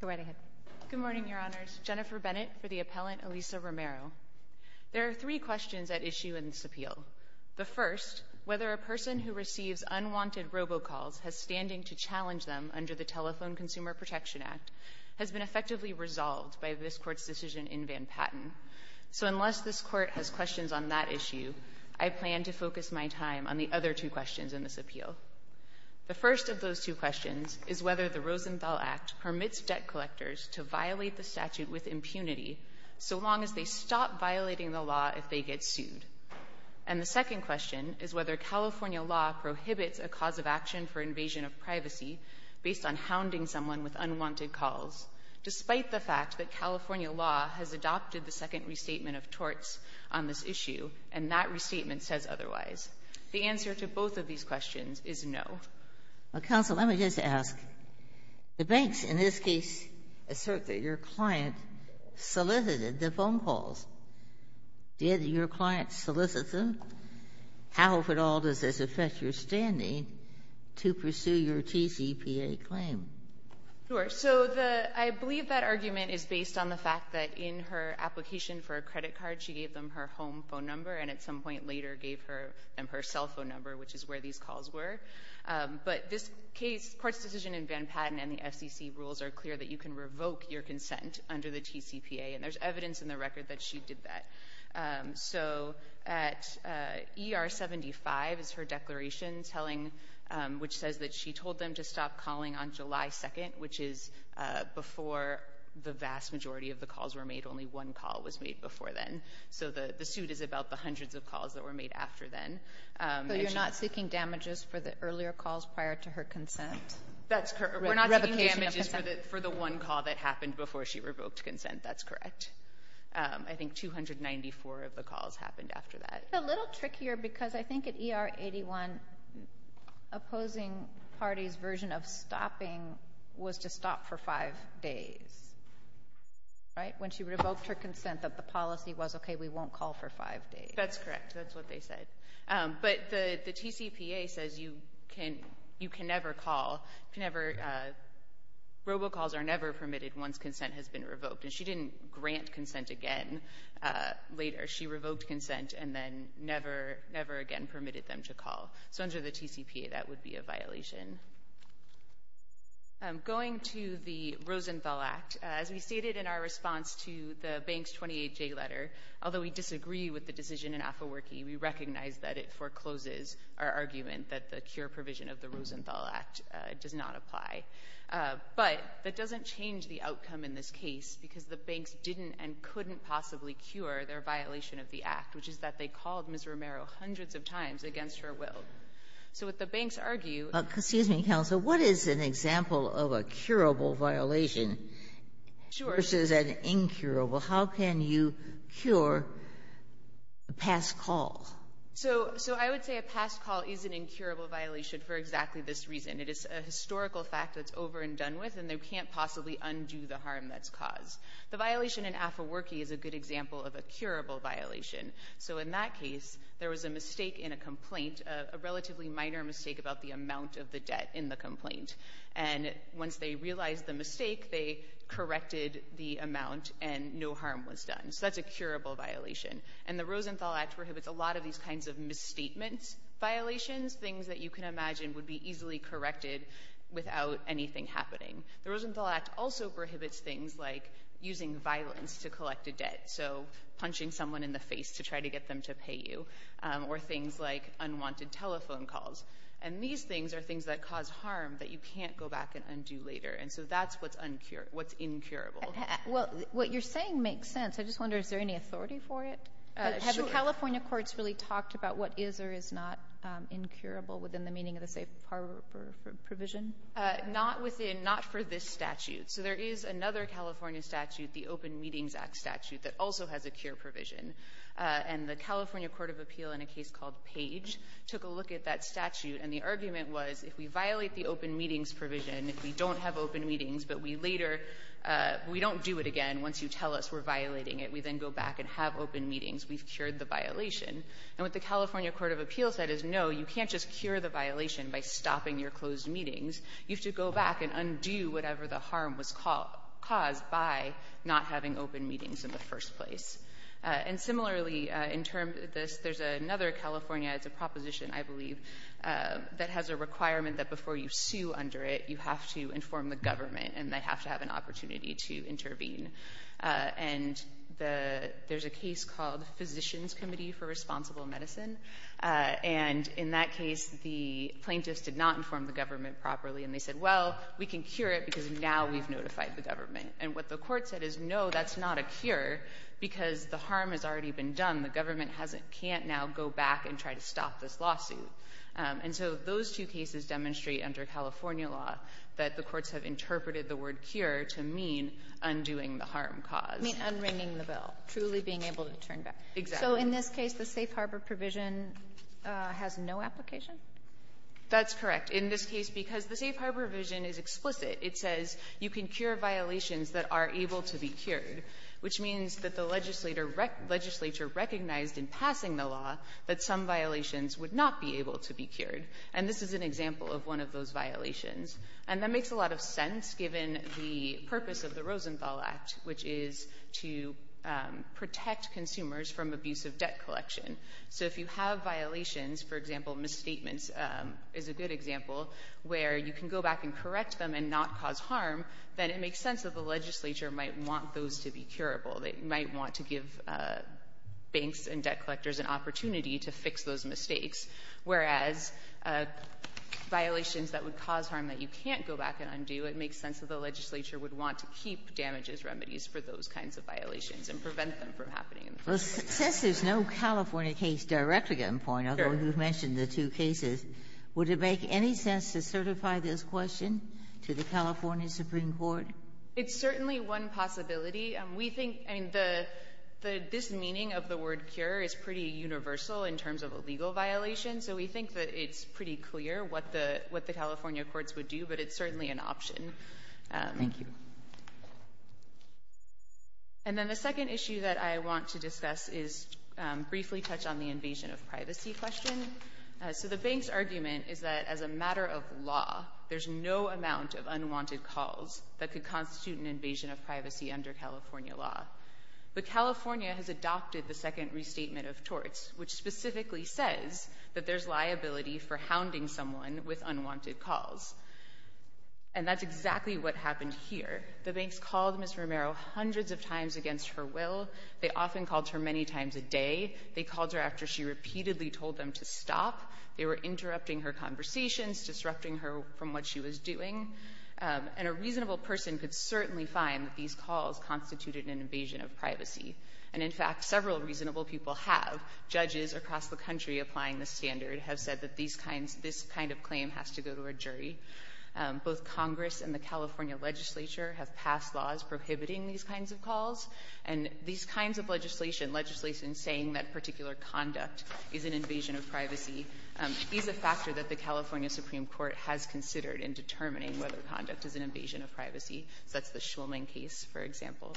Go right ahead. Good morning, Your Honors. Jennifer Bennett for the appellant Elisa Romero. There are three questions at issue in this appeal. The first, whether a person who receives unwanted robocalls has standing to challenge them under the Telephone Consumer Protection Act has been effectively resolved by this Court's decision in Van Patten. So unless this Court has questions on that issue, I plan to focus my time on the other two questions in this appeal. The first of those two questions is whether the Rosenthal Act permits debt collectors to violate the statute with impunity so long as they stop violating the law if they get sued. And the second question is whether California law prohibits a cause of action for invasion of privacy based on hounding someone with unwanted calls, despite the fact that California law has adopted the second restatement of torts on this issue and that restatement says otherwise. The answer to both of these questions is no. Well, counsel, let me just ask. The banks in this case assert that your client solicited the phone calls. Did your client solicit them? How at all does this affect your standing to pursue your TCPA claim? Sure. So the — I believe that argument is based on the fact that in her application for a credit card, she gave them her home phone number and at some point later gave them her cell phone number, which is where these calls were. But this case, the Court's decision in Van Patten and the FCC rules are clear that you can revoke your consent under the TCPA, and there's evidence in the record that she did that. So at ER 75 is her declaration telling — which says that she told them to stop calling on July 2nd, which is before the vast majority of the calls were made. Only one call was made before then. So the suit is about the hundreds of calls that were made after then. So you're not seeking damages for the earlier calls prior to her consent? That's correct. We're not seeking damages for the one call that happened before she revoked consent. That's correct. I think 294 of the calls happened after that. I think it's a little trickier because I think at ER 81, opposing parties' version of stopping was to stop for five days, right, when she revoked her consent, that the policy was, okay, we won't call for five days. That's correct. That's what they said. But the TCPA says you can never call. Robocalls are never permitted once consent has been revoked, and she didn't grant consent again later. She revoked consent and then never, never again permitted them to call. So under the TCPA, that would be a violation. Going to the Rosenthal Act, as we stated in our response to the bank's 28-J letter, although we disagree with the decision in Afawerki, we recognize that it forecloses our argument that the cure provision of the Rosenthal Act does not apply. But that doesn't change the outcome in this case because the banks didn't and couldn't possibly cure their violation of the Act, which is that they called Ms. Romero hundreds of times against her will. So what the banks argue — Excuse me, counsel. What is an example of a curable violation — Sure. — versus an incurable? How can you cure a past call? So I would say a past call is an incurable violation for exactly this reason. It is a historical fact that's over and done with, and they can't possibly undo the harm that's caused. The violation in Afawerki is a good example of a curable violation. So in that case, there was a mistake in a complaint, a relatively minor mistake about the amount of the debt in the complaint. And once they realized the mistake, they corrected the amount and no harm was done. So that's a curable violation. And the Rosenthal Act prohibits a lot of these kinds of misstatements violations, things that you can imagine would be easily corrected without anything happening. The Rosenthal Act also prohibits things like using violence to collect a debt, so punching someone in the face to try to get them to pay you, or things like unwanted telephone calls. And these things are things that cause harm that you can't go back and undo later. And so that's what's incurable. Well, what you're saying makes sense. I just wonder, is there any authority for it? Sure. Have California courts really talked about what is or is not incurable within the meaning of the safe harbor provision? Not within, not for this statute. So there is another California statute, the Open Meetings Act statute, that also has a cure provision. And the California Court of Appeal in a case called Page took a look at that statute, and the argument was if we violate the open meetings provision, if we don't have open meetings but we later, we don't do it again, once you tell us we're violating it, we then go back and have open meetings, we've cured the violation. And what the California Court of Appeal said is no, you can't just cure the violation by stopping your closed meetings. You have to go back and undo whatever the harm was caused by not having open meetings in the first place. And similarly, in terms of this, there's another California, it's a proposition I believe, that has a requirement that before you sue under it, you have to inform the government, and they have to have an opportunity to intervene. And there's a case called Physicians Committee for Responsible Medicine. And in that case, the plaintiffs did not inform the government properly, and they said, well, we can cure it because now we've notified the government. And what the court said is no, that's not a cure because the harm has already been done. The government can't now go back and try to stop this lawsuit. And so those two cases demonstrate under California law that the courts have interpreted the word cure to mean undoing the harm caused. You mean unringing the bell, truly being able to turn back. Exactly. So in this case, the safe harbor provision has no application? That's correct. In this case, because the safe harbor provision is explicit, it says you can cure violations that are able to be cured, which means that the legislature recognized in passing the law that some violations would not be able to be cured. And this is an example of one of those violations. And that makes a lot of sense given the purpose of the Rosenthal Act, which is to protect consumers from abusive debt collection. So if you have violations, for example, misstatements is a good example, where you can go back and correct them and not cause harm, then it makes sense that the legislature might want those to be curable. They might want to give banks and debt collectors an opportunity to fix those mistakes. Whereas violations that would cause harm that you can't go back and undo, it makes sense that the legislature would want to keep damages remedies for those kinds of violations and prevent them from happening. Well, since there's no California case directly on point, although you've mentioned the two cases, would it make any sense to certify this question to the California Supreme Court? It's certainly one possibility. This meaning of the word cure is pretty universal in terms of a legal violation, so we think that it's pretty clear what the California courts would do, but it's certainly an option. Thank you. And then the second issue that I want to discuss is briefly touch on the invasion of privacy question. So the bank's argument is that as a matter of law, there's no amount of unwanted calls that could constitute an invasion of privacy under California law. But California has adopted the second restatement of torts, which specifically says that there's liability for hounding someone with unwanted calls. And that's exactly what happened here. The banks called Ms. Romero hundreds of times against her will. They often called her many times a day. They called her after she repeatedly told them to stop. They were interrupting her conversations, disrupting her from what she was doing. And a reasonable person could certainly find that these calls constituted an invasion of privacy. And in fact, several reasonable people have. Judges across the country applying the standard have said that this kind of claim has to go to a jury. Both Congress and the California legislature have passed laws prohibiting these kinds of calls. And these kinds of legislation, legislation saying that particular conduct is an invasion of privacy, is a factor that the California Supreme Court has considered in determining whether conduct is an invasion of privacy. That's the Shulman case, for example.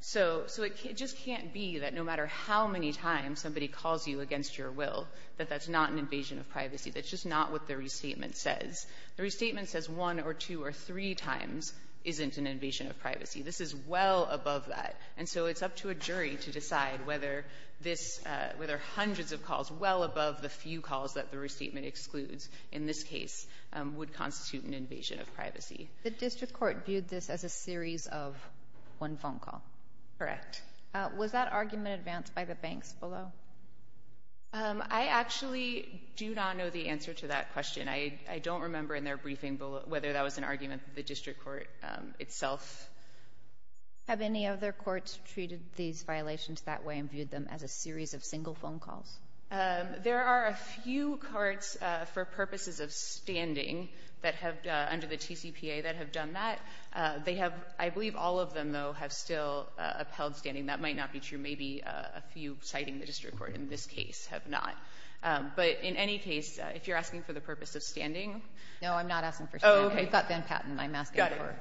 So it just can't be that no matter how many times somebody calls you against your will, that that's not an invasion of privacy. That's just not what the restatement says. The restatement says one or two or three times isn't an invasion of privacy. This is well above that. And so it's up to a jury to decide whether hundreds of calls well above the few calls that the restatement excludes in this case would constitute an invasion of privacy. The district court viewed this as a series of one phone call. Correct. Was that argument advanced by the banks below? I actually do not know the answer to that question. I don't remember in their briefing whether that was an argument that the district court itself... Have any other courts treated these violations that way and viewed them as a series of single phone calls? There are a few courts for purposes of standing that have, under the TCPA, that have done that. They have, I believe all of them, though, have still upheld standing. That might not be true. Maybe a few citing the district court in this case have not. But in any case, if you're asking for the purpose of standing... No, I'm not asking for standing. You've got Van Patten. I'm asking for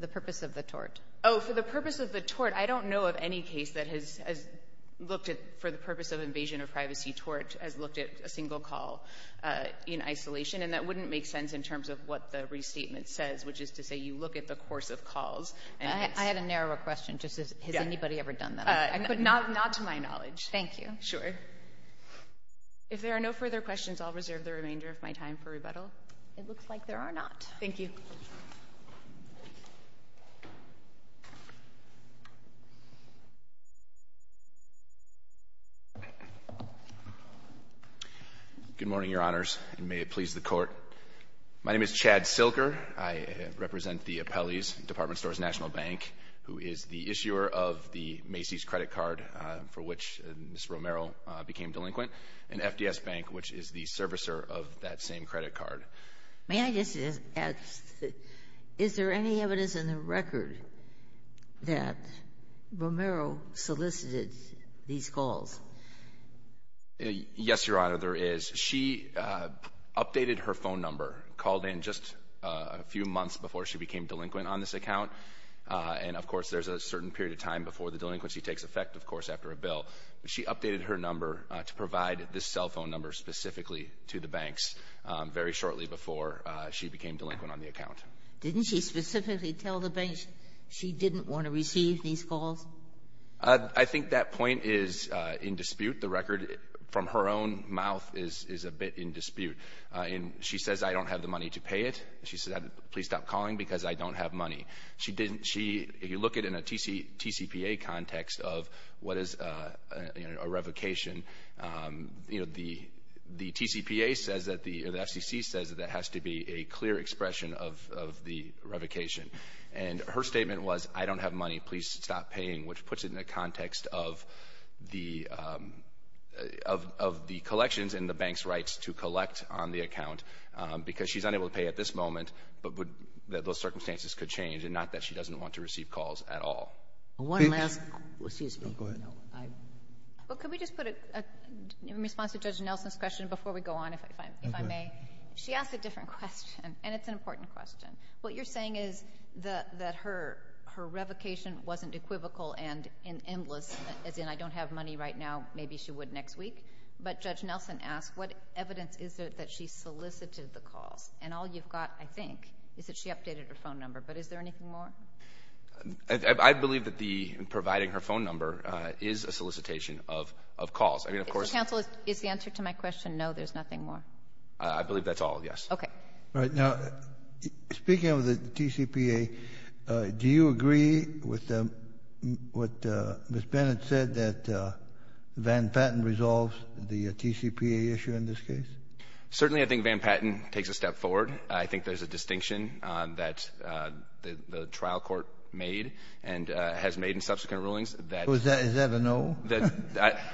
the purpose of the tort. Oh, for the purpose of the tort. I don't know of any case that has looked at, for the purpose of invasion of privacy, tort as looked at a single call in isolation. And that wouldn't make sense in terms of what the restatement says, which is to say you look at the course of calls. I had a narrower question. Has anybody ever done that? Not to my knowledge. Thank you. Sure. If there are no further questions, I'll reserve the remainder of my time for rebuttal. It looks like there are not. Thank you. Thank you. Good morning, Your Honors, and may it please the Court. My name is Chad Silker. I represent the Appellees Department Stores National Bank, who is the issuer of the Macy's credit card, for which Ms. Romero became delinquent, and FDS Bank, which is the servicer of that same credit card. May I just ask, is there any evidence in the record that Romero solicited these calls? Yes, Your Honor, there is. She updated her phone number, called in just a few months before she became delinquent on this account. And, of course, there's a certain period of time before the delinquency takes effect, of course, after a bill. She updated her number to provide this cell phone number specifically to the banks very shortly before she became delinquent on the account. Didn't she specifically tell the banks she didn't want to receive these calls? I think that point is in dispute. The record from her own mouth is a bit in dispute. She says, I don't have the money to pay it. She says, please stop calling because I don't have money. She didn't. If you look at it in a TCPA context of what is a revocation, you know, the TCPA says that the FCC says that that has to be a clear expression of the revocation. And her statement was, I don't have money. Please stop paying, which puts it in the context of the collections and the bank's rights to collect on the account, because she's unable to pay at this moment, but those circumstances could change, and not that she doesn't want to receive calls at all. One last question. Excuse me. Go ahead. Well, could we just put a response to Judge Nelson's question before we go on, if I may? She asked a different question, and it's an important question. What you're saying is that her revocation wasn't equivocal and endless, as in I don't have money right now. Maybe she would next week. But Judge Nelson asked, what evidence is there that she solicited the calls? And all you've got, I think, is that she updated her phone number. But is there anything more? I believe that the providing her phone number is a solicitation of calls. I mean, of course ---- Counsel, is the answer to my question no, there's nothing more? I believe that's all, yes. Okay. All right. Now, speaking of the TCPA, do you agree with what Ms. Bennett said, that Van Patten resolves the TCPA issue in this case? Certainly, I think Van Patten takes a step forward. I think there's a distinction that the trial court made and has made in subsequent rulings that ---- Is that a no?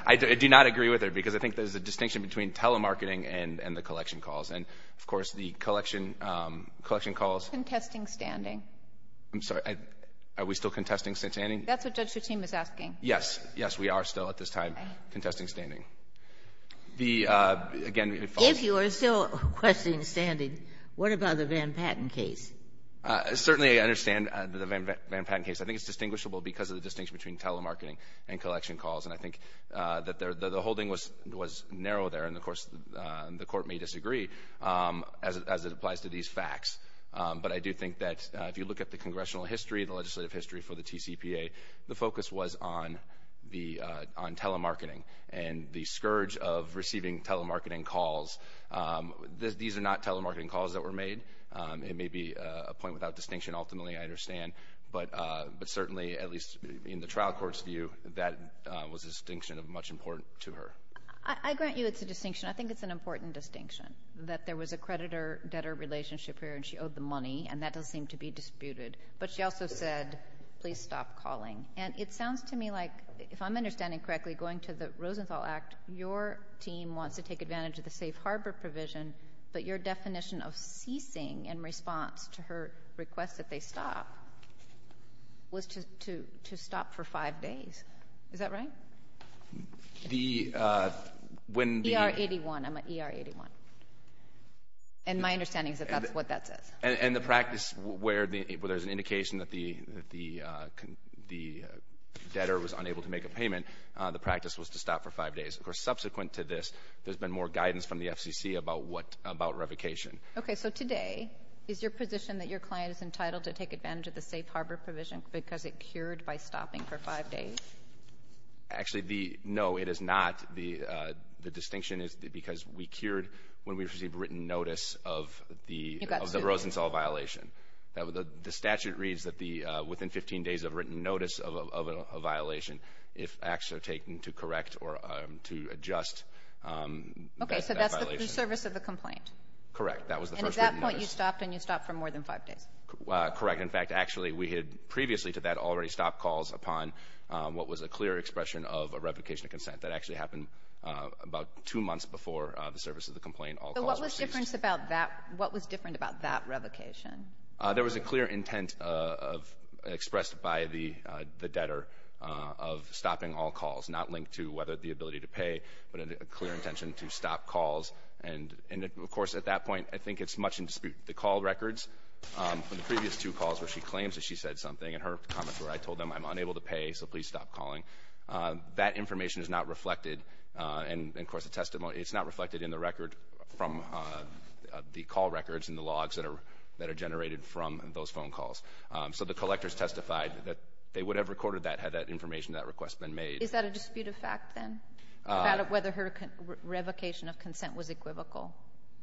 I do not agree with her, because I think there's a distinction between telemarketing and the collection calls. And, of course, the collection calls ---- Contesting standing. I'm sorry. Are we still contesting standing? That's what Judge Fatim is asking. Yes. Yes, we are still at this time contesting standing. The ---- If you are still contesting standing, what about the Van Patten case? Certainly, I understand the Van Patten case. I think it's distinguishable because of the distinction between telemarketing and collection calls. And I think that the holding was narrow there, and, of course, the Court may disagree as it applies to these facts. But I do think that if you look at the congressional history, the legislative history for the TCPA, the focus was on telemarketing and the scourge of receiving telemarketing calls. These are not telemarketing calls that were made. It may be a point without distinction, ultimately, I understand. But certainly, at least in the trial court's view, that was a distinction of much importance to her. I grant you it's a distinction. I think it's an important distinction, that there was a creditor-debtor relationship here, and she owed the money. And that doesn't seem to be disputed. But she also said, please stop calling. And it sounds to me like, if I'm understanding correctly, going to the safe harbor provision, but your definition of ceasing in response to her request that they stop was to stop for five days. Is that right? ER-81. I'm at ER-81. And my understanding is that that's what that says. And the practice where there's an indication that the debtor was unable to make a payment, the practice was to stop for five days. Of course, subsequent to this, there's been more guidance from the FCC about what about revocation. Okay. So today, is your position that your client is entitled to take advantage of the safe harbor provision because it cured by stopping for five days? Actually, no, it is not. The distinction is because we cured when we received written notice of the rosin cell violation. The statute reads that within 15 days of written notice of a violation, if acts are taken to correct or to adjust that violation. Okay. So that's the service of the complaint? Correct. That was the first written notice. And at that point, you stopped and you stopped for more than five days? Correct. In fact, actually, we had previously to that already stopped calls upon what was a clear expression of a revocation of consent. That actually happened about two months before the service of the complaint, all calls were ceased. So what was different about that revocation? There was a clear intent expressed by the debtor of stopping all calls, not linked to whether the ability to pay, but a clear intention to stop calls. And, of course, at that point, I think it's much in dispute. The call records from the previous two calls where she claims that she said something and her comments where I told them I'm unable to pay, so please stop calling. That information is not reflected. And, of course, it's not reflected in the record from the call records and the information generated from those phone calls. So the collectors testified that they would have recorded that had that information, that request, been made. Is that a dispute of fact, then, about whether her revocation of consent was equivocal?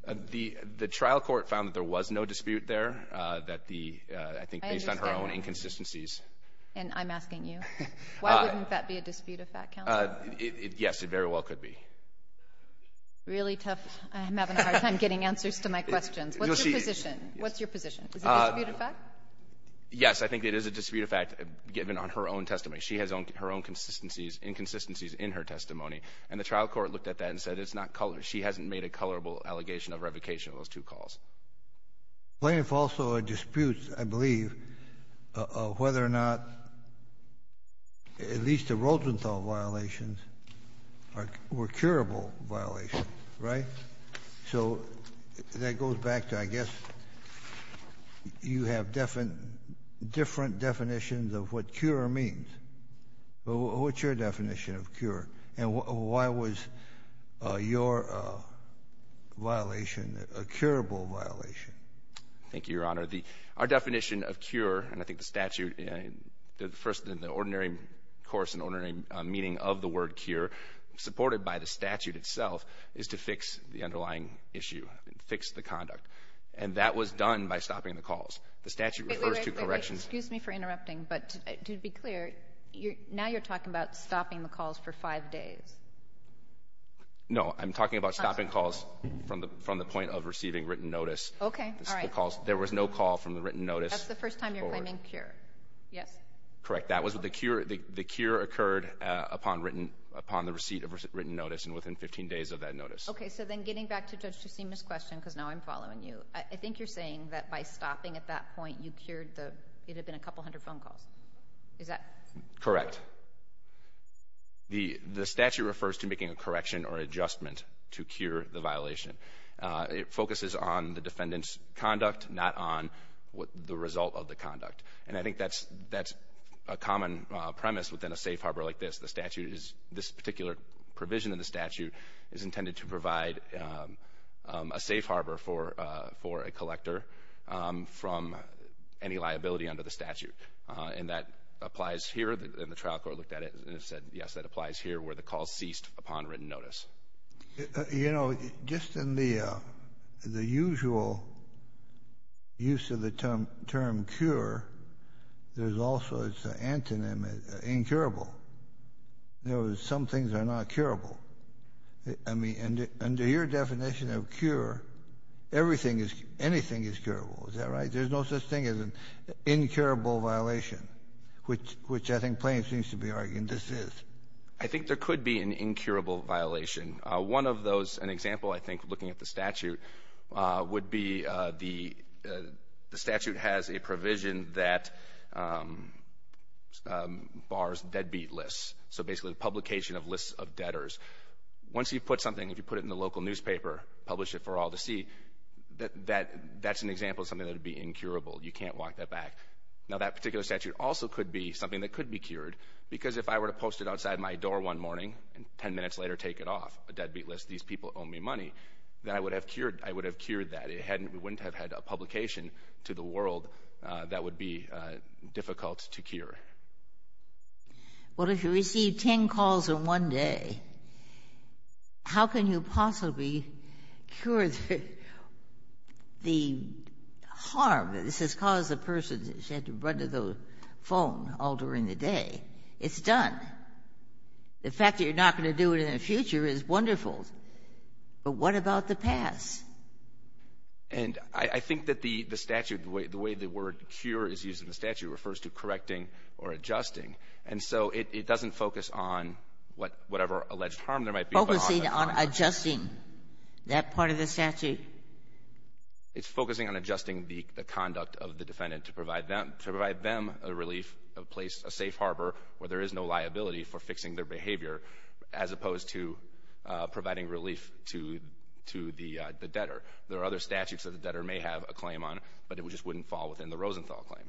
The trial court found that there was no dispute there. I think based on her own inconsistencies. And I'm asking you. Why wouldn't that be a dispute of fact, counsel? Yes, it very well could be. Really tough. I'm having a hard time getting answers to my questions. What's your position? What's your position? Is it a dispute of fact? Yes. I think it is a dispute of fact given on her own testimony. She has her own consistencies, inconsistencies in her testimony. And the trial court looked at that and said it's not color. She hasn't made a colorable allegation of revocation of those two calls. Plaintiff also disputes, I believe, whether or not at least the Rosenthal violations were curable violations, right? So that goes back to, I guess, you have different definitions of what cure means. What's your definition of cure? And why was your violation a curable violation? Thank you, Your Honor. Our definition of cure, and I think the statute, the first in the ordinary course and ordinary meaning of the word cure, supported by the statute itself, is to fix the underlying issue, fix the conduct. And that was done by stopping the calls. The statute refers to corrections. Wait, wait, wait. Excuse me for interrupting. But to be clear, now you're talking about stopping the calls for five days. No. I'm talking about stopping calls from the point of receiving written notice. Okay. All right. There was no call from the written notice. That's the first time you're claiming cure. Yes. Correct. That was the cure. The cure occurred upon the receipt of written notice and within 15 days of that notice. Okay. So then getting back to Judge Cusima's question, because now I'm following you, I think you're saying that by stopping at that point you cured the, it had been a couple hundred phone calls. Is that? Correct. The statute refers to making a correction or adjustment to cure the violation. It focuses on the defendant's conduct, not on the result of the conduct. And I think that's a common premise within a safe harbor like this. The statute is, this particular provision in the statute is intended to provide a safe harbor for a collector from any liability under the statute. And that applies here, and the trial court looked at it and said, yes, that applies here where the call ceased upon written notice. You know, just in the usual use of the term cure, there's also, it's an antonym, incurable. In other words, some things are not curable. I mean, under your definition of cure, everything is, anything is curable. Is that right? There's no such thing as an incurable violation, which I think Plains needs to be arguing this is. I think there could be an incurable violation. One of those, an example, I think, looking at the statute, would be the statute has a provision that bars deadbeat lists, so basically the publication of lists of debtors. Once you put something, if you put it in the local newspaper, publish it for all to see, that's an example of something that would be incurable. You can't walk that back. Because if I were to post it outside my door one morning and 10 minutes later take it off, a deadbeat list, these people owe me money, then I would have cured that. It wouldn't have had a publication to the world that would be difficult to cure. Well, if you receive 10 calls in one day, how can you possibly cure the harm that this has caused the person that had to run to the phone all during the day? It's done. The fact that you're not going to do it in the future is wonderful, but what about the past? And I think that the statute, the way the word cure is used in the statute refers to correcting or adjusting, and so it doesn't focus on whatever alleged harm there might be. Focusing on adjusting, that part of the statute? It's focusing on adjusting the conduct of the defendant to provide them a relief, a safe harbor where there is no liability for fixing their behavior, as opposed to providing relief to the debtor. There are other statutes that the debtor may have a claim on, but it just wouldn't fall within the Rosenthal claim.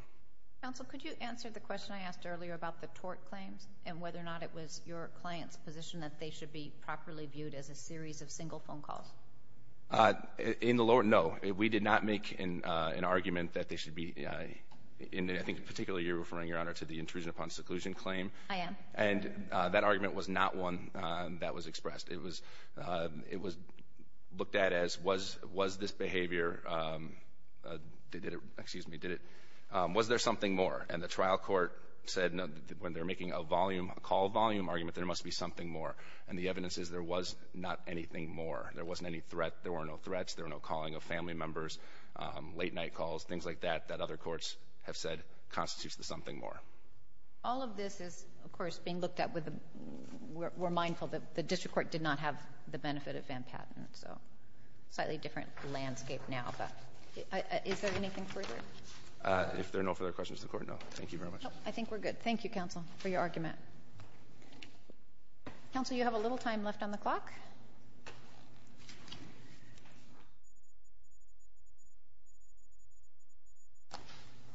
Counsel, could you answer the question I asked earlier about the tort claims and whether or not it was your client's position that they should be properly viewed as a series of single phone calls? In the lower, no. We did not make an argument that they should be, and I think particularly you're referring, Your Honor, to the intrusion upon seclusion claim. I am. And that argument was not one that was expressed. It was looked at as was this behavior, was there something more? And the trial court said when they're making a volume, a call volume argument, there must be something more. And the evidence is there was not anything more. There wasn't any threat. There were no threats. There were no calling of family members, late-night calls, things like that, that other courts have said constitutes the something more. All of this is, of course, being looked at with the — we're mindful that the district court did not have the benefit of Van Patten, so slightly different landscape now, but is there anything further? If there are no further questions to the Court, no. Thank you very much. I think we're good. Thank you, counsel, for your argument. Counsel, you have a little time left on the clock.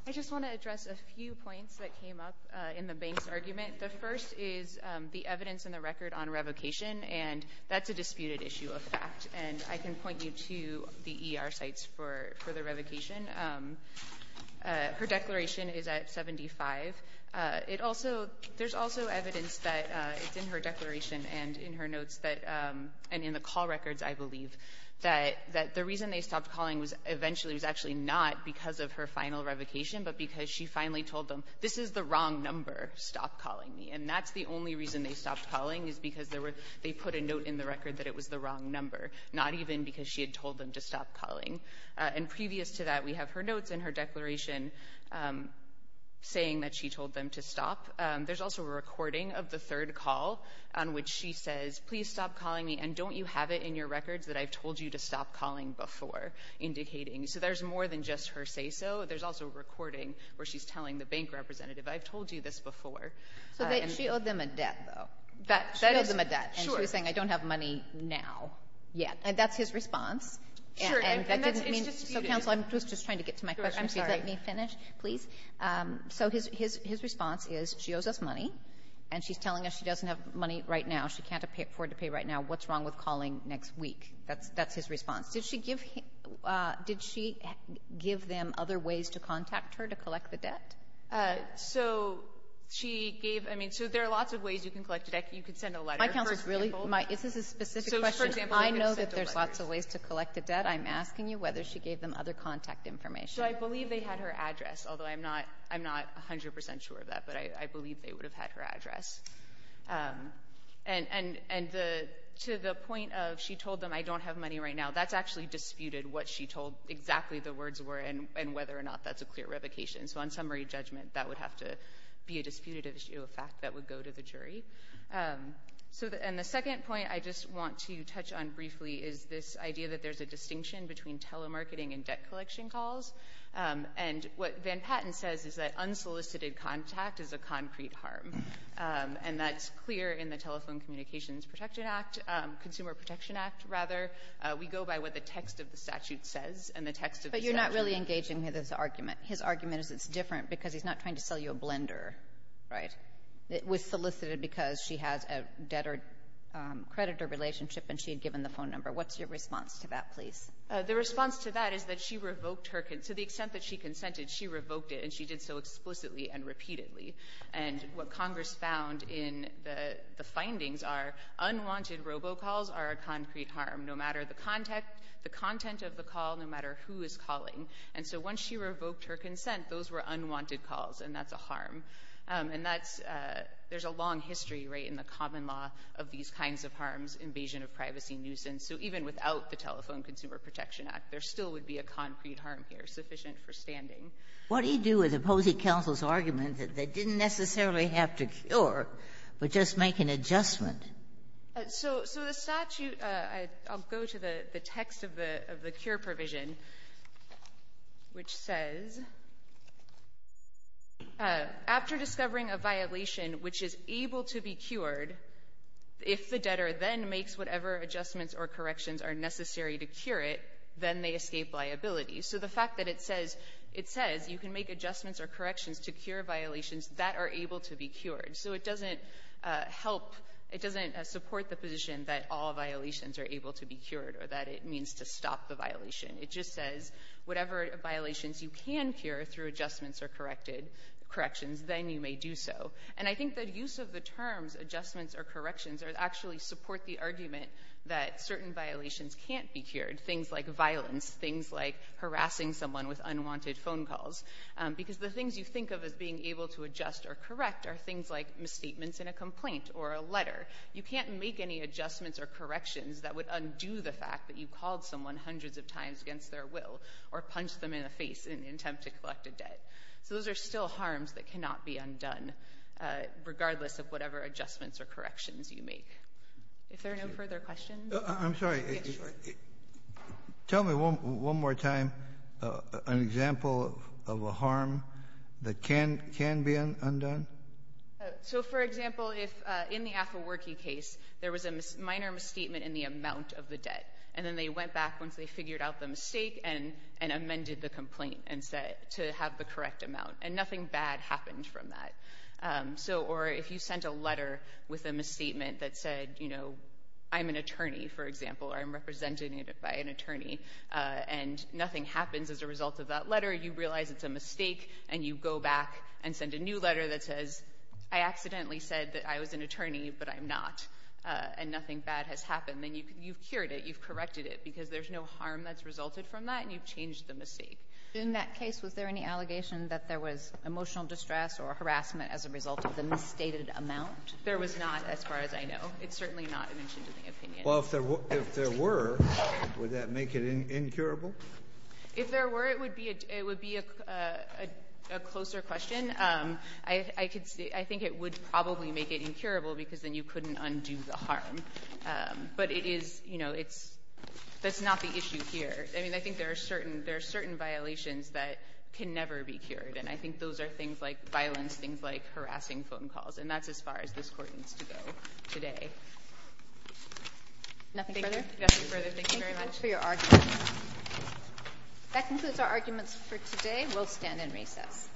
I just want to address a few points that came up in the Banks argument. The first is the evidence in the record on revocation, and that's a disputed issue of fact. And I can point you to the ER sites for the revocation. Her declaration is at 75. It also — there's also evidence that it's in her declaration and in her notes that — and in the call records, I believe, that the reason they stopped calling was eventually — it was actually not because of her final revocation, but because she finally told them, this is the wrong number. Stop calling me. And that's the only reason they stopped calling is because they put a note in the record that it was the wrong number, not even because she had told them to stop calling. And previous to that, we have her notes in her declaration saying that she told them to stop. There's also a recording of the third call on which she says, please stop calling me and don't you have it in your records that I've told you to stop calling before, indicating — so there's more than just her say-so. There's also a recording where she's telling the bank representative, I've told you this before. So she owed them a debt, though. She owed them a debt. And she was saying, I don't have money now yet. And that's his response. And that didn't mean — Sure. And that's — it's disputed. So, Counsel, I was just trying to get to my question. I'm sorry. Let me finish, please. So his response is, she owes us money, and she's telling us she doesn't have money right now. She can't afford to pay right now. What's wrong with calling next week? That's his response. Did she give him — did she give them other ways to contact her to collect the debt? So she gave — I mean, so there are lots of ways you can collect a debt. You could send a letter. My counsel is really — this is a specific question. I know that there's lots of ways to collect a debt. I'm asking you whether she gave them other contact information. So I believe they had her address, although I'm not 100 percent sure of that. But I believe they would have had her address. And to the point of she told them, I don't have money right now, that's actually disputed what she told exactly the words were and whether or not that's a clear revocation. So on summary judgment, that would have to be a disputed issue, a fact that would go to the jury. So — and the second point I just want to touch on briefly is this idea that there's a distinction between telemarketing and debt collection calls. And what Van Patten says is that unsolicited contact is a concrete harm. And that's clear in the Telephone Communications Protection Act — Consumer Protection Act, rather. We go by what the text of the statute says, and the text of the statute — But you're not really engaging with his argument. His argument is it's different because he's not trying to sell you a blender, right, that was solicited because she has a debtor-creditor relationship and she had given the phone number. What's your response to that, please? The response to that is that she revoked her — to the extent that she consented, she revoked it, and she did so explicitly and repeatedly. And what Congress found in the findings are unwanted robocalls are a concrete harm, no matter the content of the call, no matter who is calling. And so once she revoked her consent, those were unwanted calls, and that's a harm. And that's — there's a long history, right, in the common law of these kinds of harms, invasion of privacy, nuisance. So even without the Telephone Consumer Protection Act, there still would be a concrete harm here sufficient for standing. What do you do with opposing counsel's argument that they didn't necessarily have to cure, but just make an adjustment? So the statute — I'll go to the text of the cure provision, which says, after discovering a violation which is able to be cured, if the debtor then makes whatever adjustments or corrections are necessary to cure it, then they escape liability. So the fact that it says — it says you can make adjustments or corrections to cure violations that are able to be cured. So it doesn't help — it doesn't support the position that all violations are able to be cured or that it means to stop the violation. It just says whatever violations you can cure through adjustments or corrections, then you may do so. And I think that use of the terms adjustments or corrections actually support the argument that certain violations can't be cured, things like violence, things like harassing someone with unwanted phone calls, because the things you think of as being able to adjust or correct are things like misstatements in a complaint or a letter. You can't make any adjustments or corrections that would undo the fact that you called someone hundreds of times against their will or punched them in the face in an attempt to collect a debt. So those are still harms that cannot be undone, regardless of whatever adjustments or corrections you make. If there are no further questions. I'm sorry. Yes, sir. Tell me one more time an example of a harm that can be undone. So, for example, if in the Afflewerkey case there was a minor misstatement in the amount of the debt, and then they went back once they figured out the mistake and amended the complaint and said to have the correct amount, and nothing bad happened from that. Or if you sent a letter with a misstatement that said, you know, I'm an attorney, for example, or I'm represented by an attorney, and nothing happens as a result of that letter, you realize it's a mistake, and you go back and send a new letter that says, I accidentally said that I was an attorney, but I'm not, and nothing bad has happened. Then you've cured it, you've corrected it, because there's no harm that's resulted from that, and you've changed the mistake. In that case, was there any allegation that there was emotional distress or harassment as a result of the misstated amount? There was not, as far as I know. It's certainly not an inch into the opinion. Well, if there were, would that make it incurable? If there were, it would be a closer question. I think it would probably make it incurable, because then you couldn't undo the harm. But it is, you know, it's not the issue here. I mean, I think there are certain violations that can never be cured, and I think those are things like violence, things like harassing phone calls, and that's as far as this Court needs to go today. Nothing further? Nothing further. Thank you very much. Thank you for your argument. That concludes our arguments for today. We'll stand and recess.